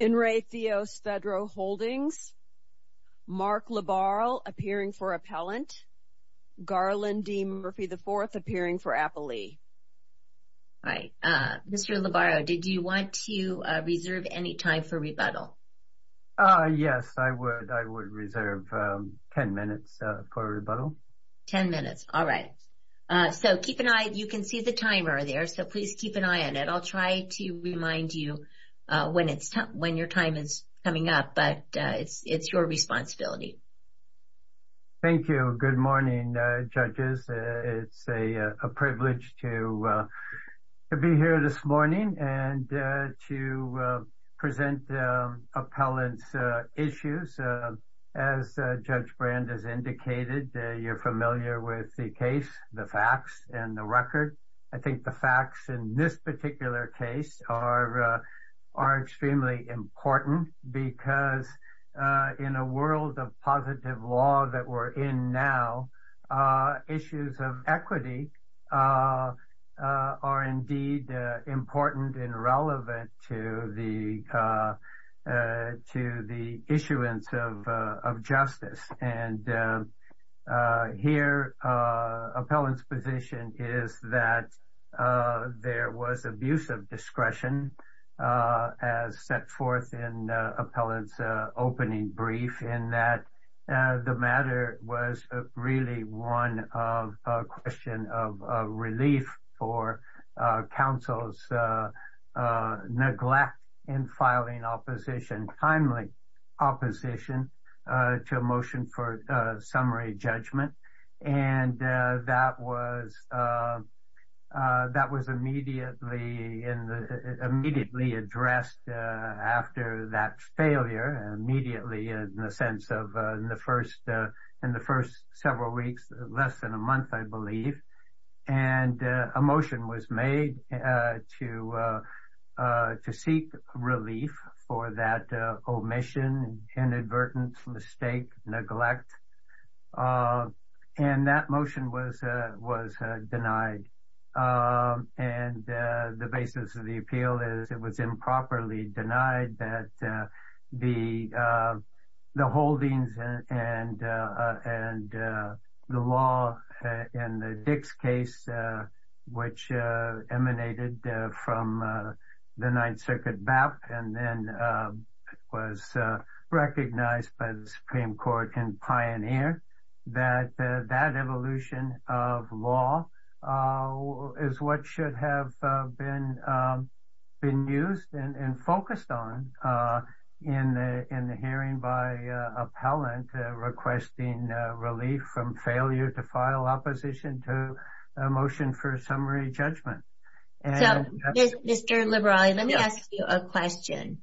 In re Theos Fedro Holdings, Mark LaBarrell appearing for appellant, Garland D Murphy IV appearing for appellee. All right, Mr. LaBarrell, did you want to reserve any time for rebuttal? Yes, I would. I would reserve 10 minutes for rebuttal. 10 minutes, all right. So keep an eye, you can see the timer there, so please keep an eye on it. I'll try to remind you when your time is coming up, but it's your responsibility. Thank you. Good morning, judges. It's a privilege to be here this morning and to present appellant's issues. As Judge Brand has indicated, you're facts in this particular case are extremely important because in a world of positive law that we're in now, issues of equity are indeed important and relevant to the issuance of justice. And here, appellant's position is that there was abusive discretion as set forth in appellant's opening brief, and that the matter was really one of a question of relief for counsel's neglect in filing opposition, timely opposition, to a motion for summary judgment. And that was immediately addressed after that failure, immediately in the sense of in the first several weeks, less than a month, I believe. And a motion was made to seek relief for that omission, inadvertent mistake, neglect. And that motion was denied. And the basis of the appeal is it was improperly denied that the holdings and the law in the Dix case, which emanated from the Ninth Circuit BAP and then was recognized by the Supreme Court and pioneer, that that evolution of law is what should have been used and focused on in the hearing by appellant requesting relief from failure to file opposition to a motion for summary judgment. So, Mr. Liberale, let me ask you a question.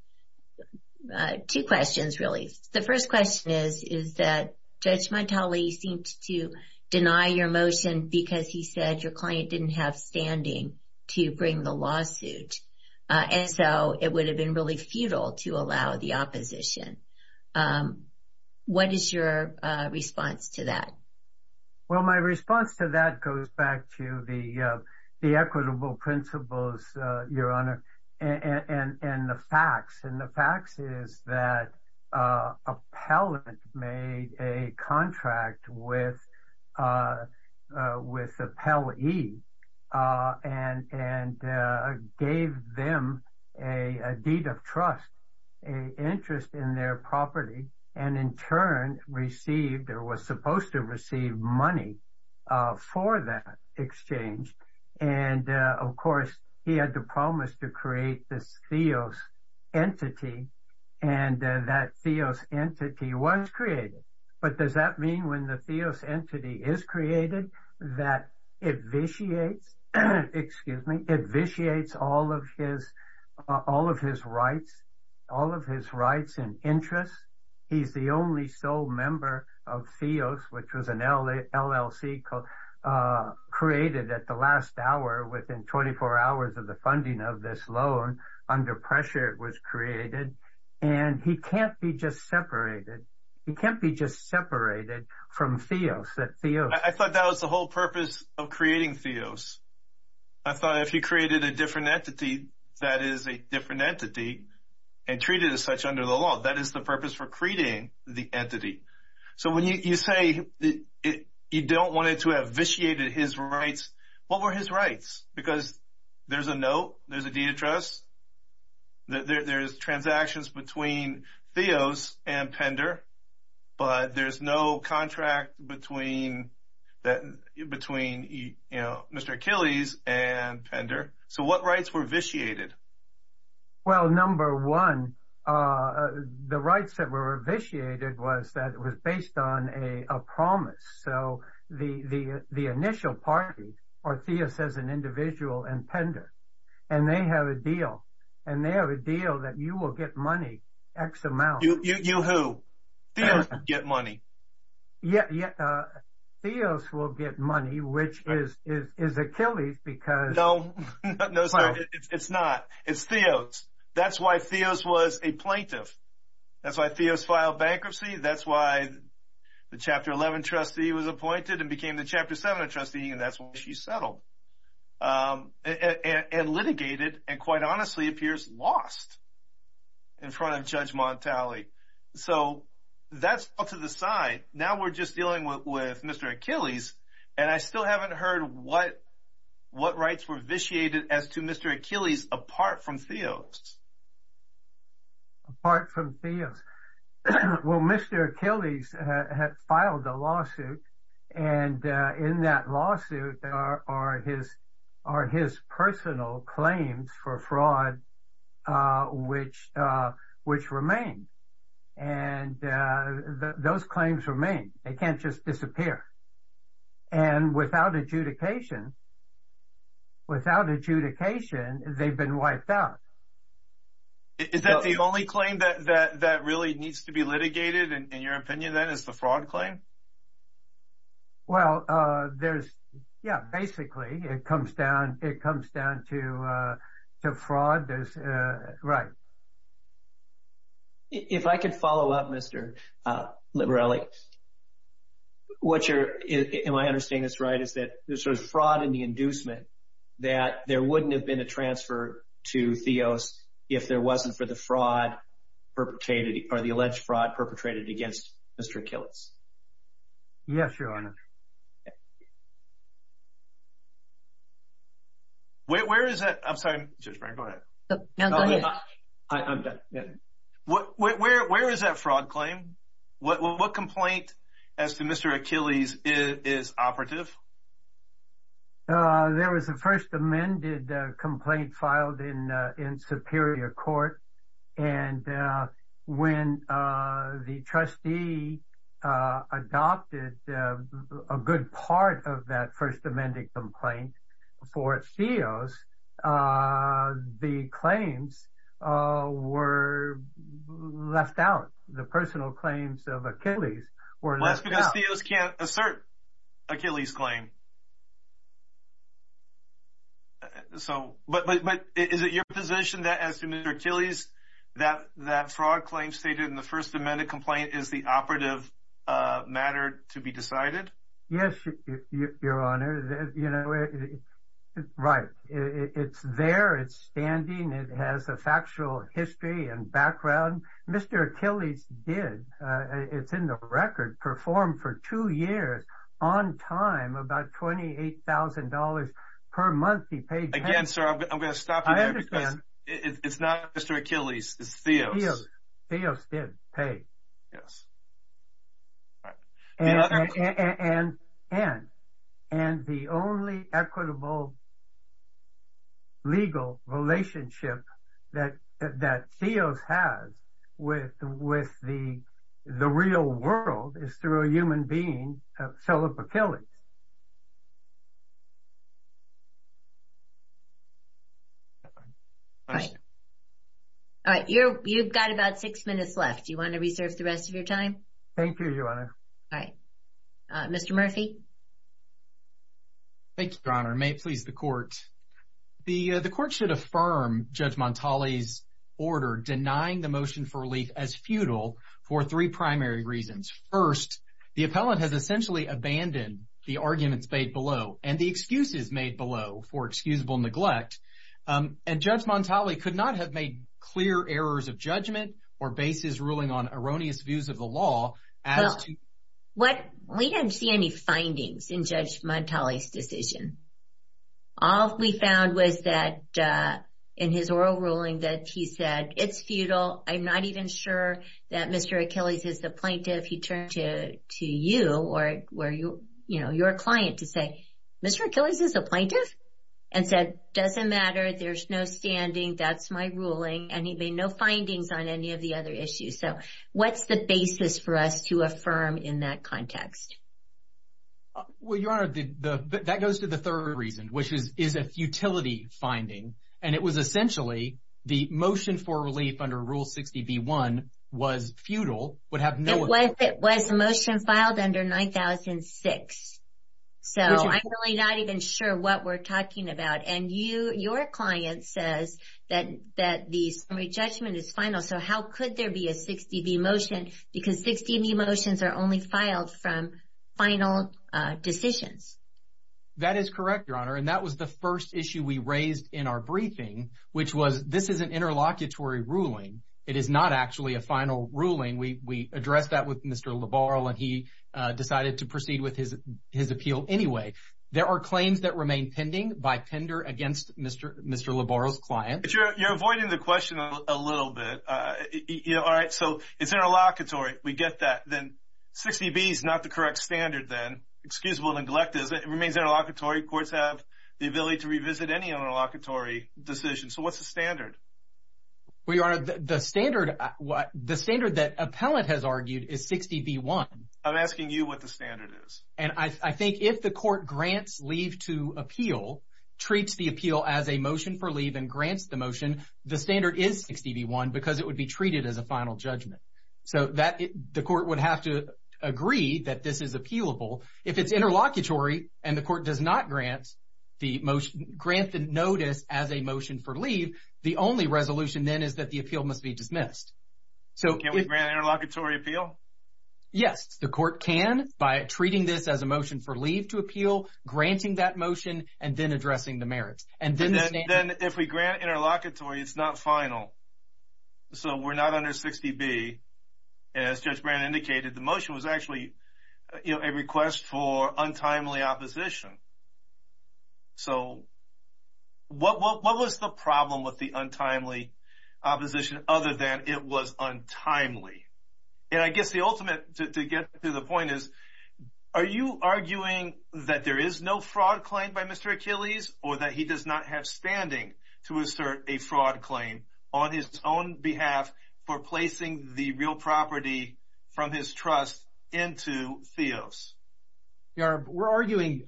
Two questions, really. The first question is that Judge Montali seemed to deny your motion because he said your client didn't have standing to bring the lawsuit. And so it would have been really futile to allow the opposition. What is your response to that? Well, my response to that goes back to the equitable principles, Your Honor, and the facts. And the facts is that appellant made a contract with appellee and gave them a deed of trust, an interest in their property, and in turn received or was supposed to receive money for that exchange. And, of course, he had to promise to create this theos entity, and that theos entity was created. But does that mean when the theos entity is created, that it vitiates, excuse me, it vitiates all of his rights, all of his rights and interests? He's the only sole member of theos, which was an LLC created at the last hour within 24 hours of the funding of this loan. Under pressure, it was created. And he can't be just separated. He can't be just separated from theos. I thought that was the whole purpose of creating theos. I thought if he created a different entity that is a different entity and treat it as such under the law, that is the purpose for creating the entity. So when you say you don't want it to have vitiated his rights, what were his rights? Because there's a note, there's a deed of trust, there's transactions between theos and Pender, but there's no contract between Mr. Achilles and Pender. So what rights were vitiated? Well, number one, the rights that were vitiated was that it was based on a promise. So the initial party, or theos as an individual and Pender, and they have a deal. And they have a money, X amount. You who? Theos will get money. Theos will get money, which is Achilles because- No, it's not. It's theos. That's why theos was a plaintiff. That's why theos filed bankruptcy. That's why the Chapter 11 trustee was appointed and became the Chapter 7 trustee, and that's lost in front of Judge Montali. So that's all to the side. Now we're just dealing with Mr. Achilles, and I still haven't heard what rights were vitiated as to Mr. Achilles apart from theos. Apart from theos. Well, Mr. Achilles had filed a lawsuit, and in that lawsuit are his personal claims for fraud, which remained. And those claims remain. They can't just disappear. And without adjudication, without adjudication, they've been wiped out. Is that the only claim that really needs to be litigated, in your opinion, then, is the fraud claim? Well, there's- yeah, basically, it comes down to fraud. There's- right. If I could follow up, Mr. Liberelli, what you're- am I understanding this right, is that there's fraud in the inducement that there wouldn't have been a transfer to theos if there wasn't for the fraud perpetrated, or the alleged fraud perpetrated against Mr. Achilles. Yes, Your Honor. Where is that- I'm sorry, Judge Frank, go ahead. I'm done. Where is that fraud claim? What complaint as to Mr. Achilles is operative? There was a first amended complaint filed in Superior Court, and when the trustee adopted a good part of that first amended complaint for theos, the claims were left out. The personal claims of Achilles were left out. Well, that's because theos can't assert Achilles' claim. So- but is it your position that as to Mr. Achilles, that fraud claim stated in the first amended complaint is the operative matter to be decided? Yes, Your Honor. You know, right. It's there, it's standing, it has a factual history and background. Mr. Achilles did, it's in the record, perform for two years on time about $28,000 per month he paid- Again, sir, I'm going to stop you there because it's not Mr. Achilles, it's theos. Theos did pay. And the only equitable legal relationship that theos has with the real world is through a human being, Philip Achilles. All right. You've got about six minutes left. Do you want to reserve the rest of your time? Thank you, Your Honor. All right. Mr. Murphy. Thank you, Your Honor. May it please the Court. The Court should affirm Judge Montali's order denying the motion for relief as futile for three primary reasons. First, the appellant has essentially abandoned the arguments made below and the excuses made below for excusable neglect. And Judge Montali could not have made clear errors of judgment or bases ruling on erroneous views of the law as to- Well, we didn't see any findings in Judge Montali's decision. All we found was that in his oral ruling that he said, it's futile, I'm not even sure that Mr. Achilles is the plaintiff. He turned to you or your client to say, Mr. Achilles is a plaintiff? And said, doesn't matter, there's no standing, that's my ruling. And he made no findings on any of the other issues. So what's the basis for us to affirm in that context? Well, Your Honor, that goes to the third reason, which is a futility finding. And it was essentially the motion for relief under Rule 60B1 was futile, would have no- It was a motion filed under 9006. So I'm really not even sure what we're talking about. And your client says that the summary judgment is final. So how could there be a 60B motion? Because 60B motions are only filed from final decisions. That is correct, Your Honor. And that was the first issue we raised in our briefing, which was this is an interlocutory ruling. It is not actually a final ruling. We addressed that with Mr. Labarle and he decided to proceed with his appeal anyway. There are claims that remain pending by Pender against Mr. Labarle's client. But you're avoiding the question a little bit. All right. So it's interlocutory. We get that. Then 60B is not the correct standard then, excusable and neglected. It remains interlocutory. Courts have the ability to revisit any interlocutory decision. So what's the standard? Well, Your Honor, the standard that appellate has argued is 60B1. I'm asking you what the standard is. And I think if the court grants leave to appeal, treats the appeal as a motion for leave and grants the motion, the standard is 60B1 because it would be treated as a final judgment. So the court would have to agree that this is appealable. If it's interlocutory and the court does not grant the motion, grant the notice as a motion for leave, the only resolution then is that the appeal must be dismissed. So can we grant an interlocutory appeal? Yes, the court can by treating this as a motion for leave to appeal, granting that motion and then addressing the merits. And then if we grant interlocutory, it's not final. So we're not under 60B. As Judge Brand indicated, the motion was actually, you know, a request for untimely opposition. So what was the problem with the untimely opposition other than it was untimely? And I guess the ultimate to get to the point is, are you arguing that there is no fraud claimed by Mr. Achilles or that he does not have standing to assert a fraud claim on his own behalf for placing the real property from his trust into Theos? We're arguing,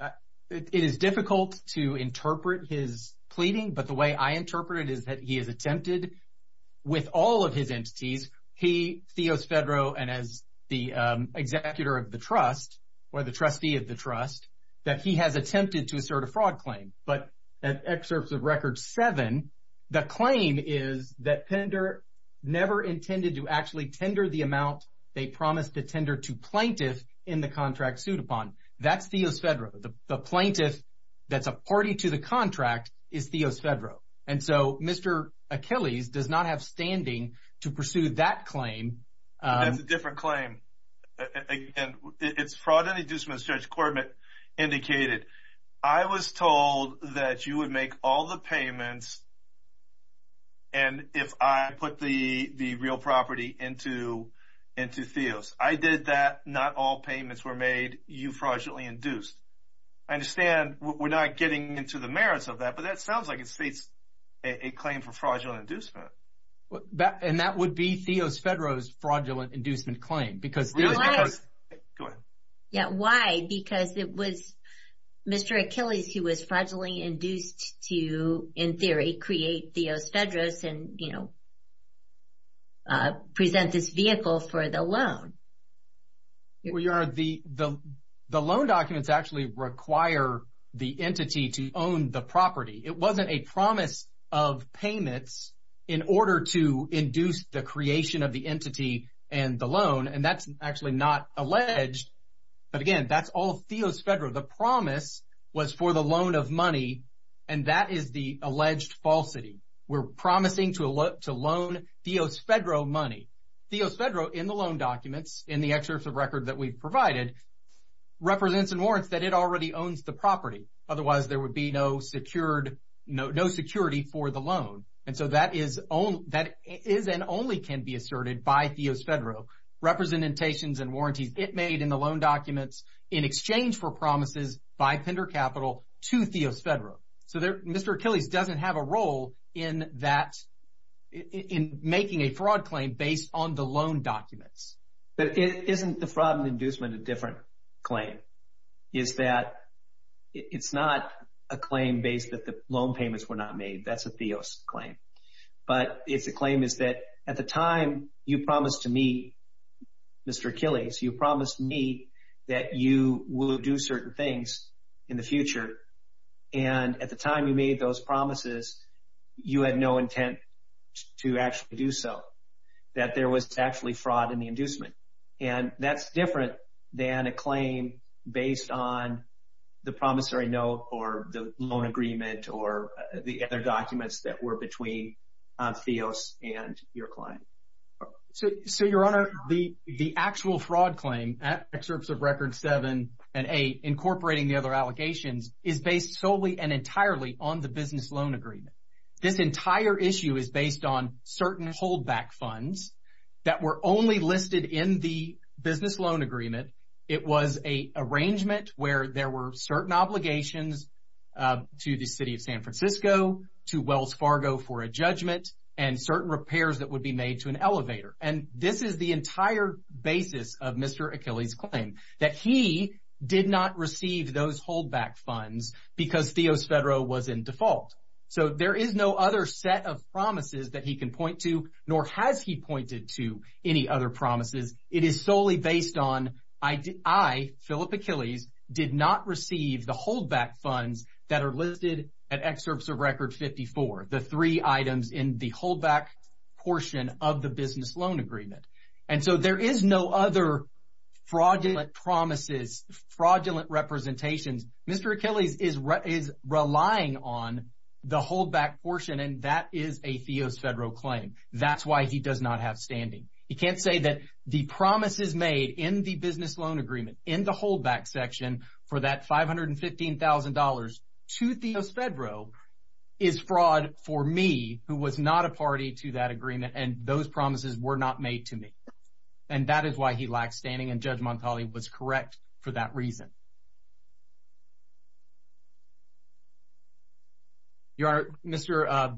it is difficult to interpret his pleading, but the way I interpret it is that he has attempted with all of his entities, he, Theos Fedro, and as the executor of the trust or the trustee of the trust, that he has attempted to assert a fraud claim. But excerpts of record seven, the claim is that Pender never intended to actually tender the amount they promised to tender to plaintiff in the contract sued upon. That's Theos Fedro. The plaintiff that's a party to the contract is Theos Fedro. And so Mr. Achilles does not have standing to pursue that claim. That's a different claim. Again, it's fraud and inducement, as Judge would make all the payments. And if I put the real property into Theos, I did that, not all payments were made, you fraudulently induced. I understand we're not getting into the merits of that, but that sounds like it states a claim for fraudulent inducement. And that would be Theos Fedro's fraudulent inducement claim because... Go ahead. Yeah, why? Because it was Mr. Achilles who was fraudulently induced to, in theory, create Theos Fedros and, you know, present this vehicle for the loan. Well, Your Honor, the loan documents actually require the entity to own the property. It wasn't a promise of payments in order to induce the creation of the entity and the loan, and that's actually not alleged. But again, that's all Theos Fedro. The promise was for the loan of money, and that is the alleged falsity. We're promising to loan Theos Fedro money. Theos Fedro, in the loan documents, in the excerpt of record that we've provided, represents and warrants that it already owns the property. Otherwise, there would be no security for the loan. And so that is and only can be asserted by Theos Fedro. Representations and warranties it made in the loan documents in exchange for promises by Pender Capital to Theos Fedro. So Mr. Achilles doesn't have a role in that, in making a fraud claim based on the loan documents. But isn't the fraudulent inducement a different claim? Is that it's not a claim based that the loan payments were not made. That's a Theos claim. But it's a claim is that at the time you promised to me, Mr. Achilles, you promised me that you will do certain things in the future. And at the time you made those promises, you had no intent to actually do so. That there was actually fraud in the inducement. And that's different than a claim based on the promissory note or the loan agreement or the other documents that were between Theos and your client. So, Your Honor, the actual fraud claim at excerpts of record seven and eight, incorporating the other allegations, is based solely and entirely on the business loan agreement. This entire issue is based on certain holdback funds that were only listed in the business loan agreement. It was an arrangement where there were certain obligations to the city of San Francisco, to Wells Fargo for a judgment, and certain repairs that would be made to an elevator. And this is the entire basis of Mr. Achilles' claim, that he did not receive those holdback funds because Theos Fedro was in default. So there is no other set of promises that he can point to, nor has he pointed to any other promises. It is solely based on, I, Philip Achilles, did not receive the holdback funds that are listed at excerpts of record 54, the three items in the holdback portion of the business loan agreement. And so there is no other fraudulent promises, fraudulent representations. Mr. Achilles is relying on the holdback portion, and that is a Theos Fedro claim. That's why he does not have standing. He can't say that the promises made in the business loan agreement, in the holdback section, for that $515,000 to Theos Fedro is fraud for me, who was not a party to that agreement, and those promises were not made to me. And that is why he lacks standing, and Judge Montali was correct for that reason. Your Honor, Mr.,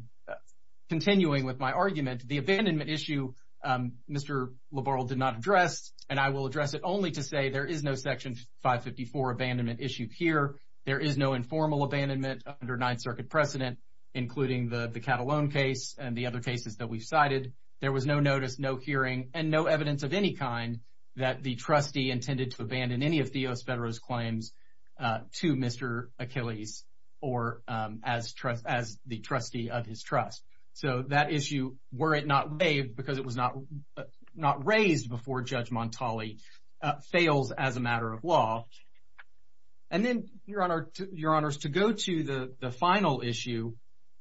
continuing with my argument, the abandonment issue, Mr. Labarle did not address, and I will address it only to say there is no Section 554 abandonment issue here. There is no informal abandonment under Ninth Circuit precedent, including the Catalone case and the other cases that we've cited. There was no notice, no hearing, and no evidence of any kind that the trustee intended to abandon any of Theos Fedro's claims. to Mr. Achilles or as the trustee of his trust. So that issue, were it not waived, because it was not raised before Judge Montali, fails as a matter of law. And then, Your Honor, to go to the final issue,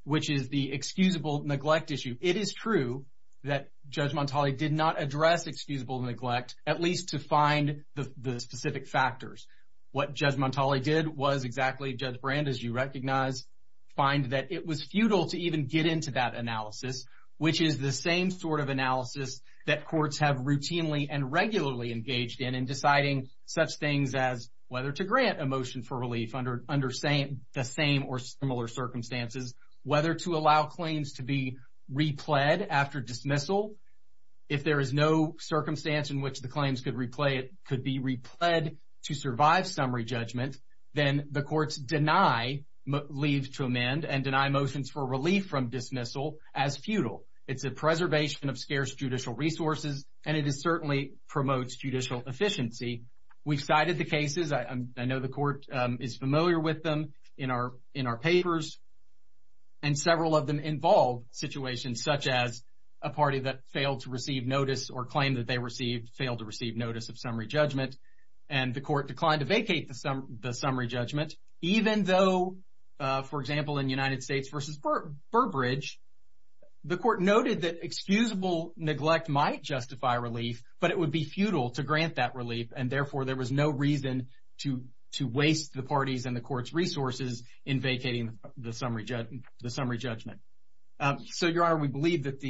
which is the excusable neglect issue. It is true that Judge Montali did not address excusable neglect, at least to find the specific factors. What Judge Montali did was exactly, Judge Brand, as you recognize, find that it was futile to even get into that analysis, which is the same sort of analysis that courts have routinely and regularly engaged in, in deciding such things as whether to grant a motion for relief under the same or similar circumstances, whether to allow claims to be repled after dismissal. If there is no to survive summary judgment, then the courts deny leave to amend and deny motions for relief from dismissal as futile. It's a preservation of scarce judicial resources, and it certainly promotes judicial efficiency. We've cited the cases. I know the Court is familiar with them in our papers, and several of them involve situations such as a party that failed to receive notice or claim that they failed to receive notice of summary judgment, and the Court declined to vacate the summary judgment, even though, for example, in United States v. Burbridge, the Court noted that excusable neglect might justify relief, but it would be futile to grant that relief, and therefore there was no reason to waste the party's and the Court's resources in vacating the summary judgment. So, Your Honor, we believe that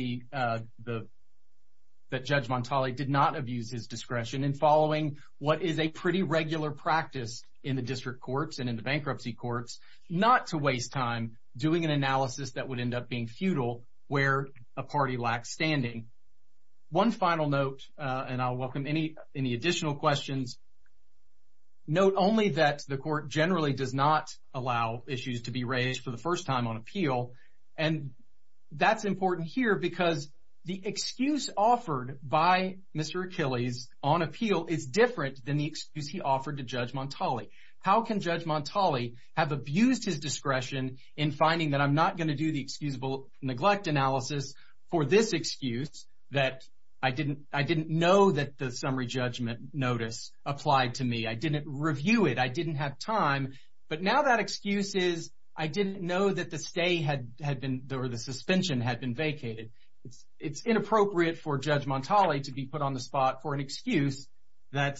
Judge Montali did not abuse his discretion in following what is a pretty regular practice in the district courts and in the bankruptcy courts, not to waste time doing an analysis that would end up being futile where a party lacks standing. One final note, and I'll welcome any additional questions. Note only that the Court generally does not allow issues to be raised for first time on appeal, and that's important here because the excuse offered by Mr. Achilles on appeal is different than the excuse he offered to Judge Montali. How can Judge Montali have abused his discretion in finding that I'm not going to do the excusable neglect analysis for this excuse that I didn't know that the summary judgment notice applied to me, I didn't review it, I didn't have time, but now that excuse is I didn't know that the stay had been, or the suspension had been vacated. It's inappropriate for Judge Montali to be put on the spot for an excuse that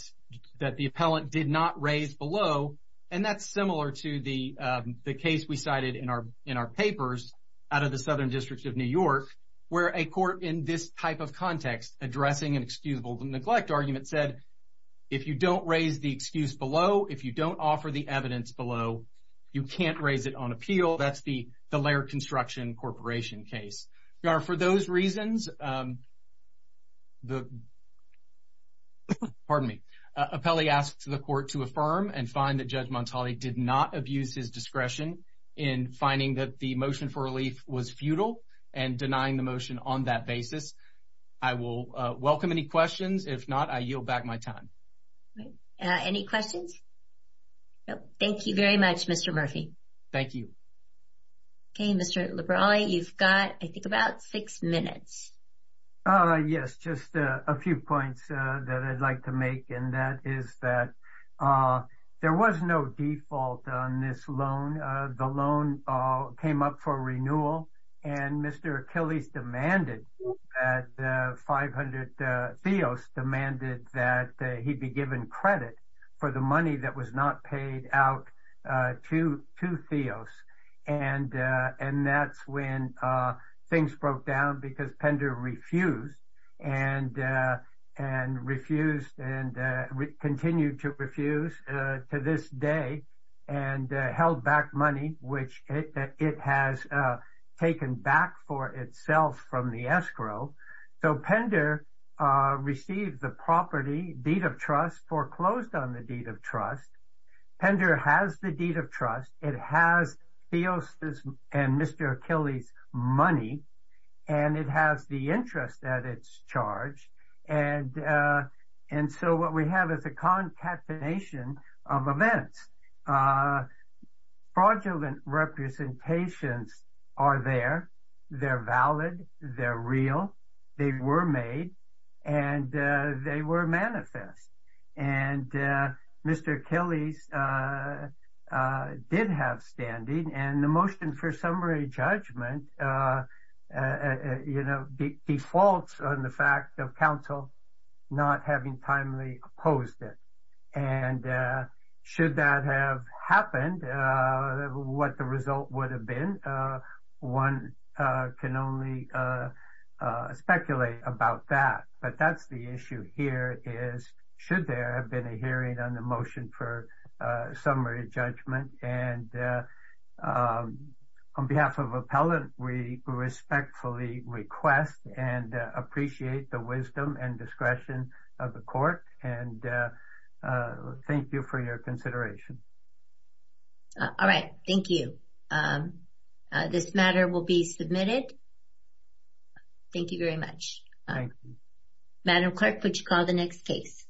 the appellant did not raise below, and that's similar to the case we cited in our papers out of the Southern District of New York where a court in this type of context addressing an excusable neglect argument said, if you don't raise the excuse below, if you don't offer the evidence below, you can't raise it on appeal. That's the Laird Construction Corporation case. For those reasons, the, pardon me, appellee asked the Court to affirm and find that Judge Montali did not abuse his discretion in finding that the motion for relief was futile and denying the motion on that basis. I will welcome any questions. If not, I yield back my time. Great. Any questions? No. Thank you very much, Mr. Murphy. Thank you. Okay, Mr. Liberali, you've got, I think, about six minutes. Yes, just a few points that I'd like to make, and that is that there was no default on this loan. The loan came up for renewal, and Mr. Achilles demanded that 500, Theos demanded that he be given credit for the money that was not paid out to Theos, and that's when things broke down because Pender refused and refused and continued to refuse to this day and held back money, which it has taken back for itself from the escrow. So, Pender received the property, deed of trust, foreclosed on the deed of trust. Pender has the deed of trust. It has Theos' and Mr. Achilles' money, and it has the interest that it's charged, and so what we have is a concatenation of events. Fraudulent representations are there. They're valid. They're real. They were made, and they were manifest, and Mr. Achilles did have standing, and the motion for summary judgment defaults on the fact of council not having timely opposed it, and should that have happened, what the result would have been. One can only speculate about that, but that's the issue here is should there have been a hearing on the motion for summary judgment, and on behalf of appellant, we respectfully request and appreciate the wisdom and discretion of the court, and thank you for your consideration. All right. Thank you. This matter will be submitted. Thank you very much. Madam Clerk, would you call the next case?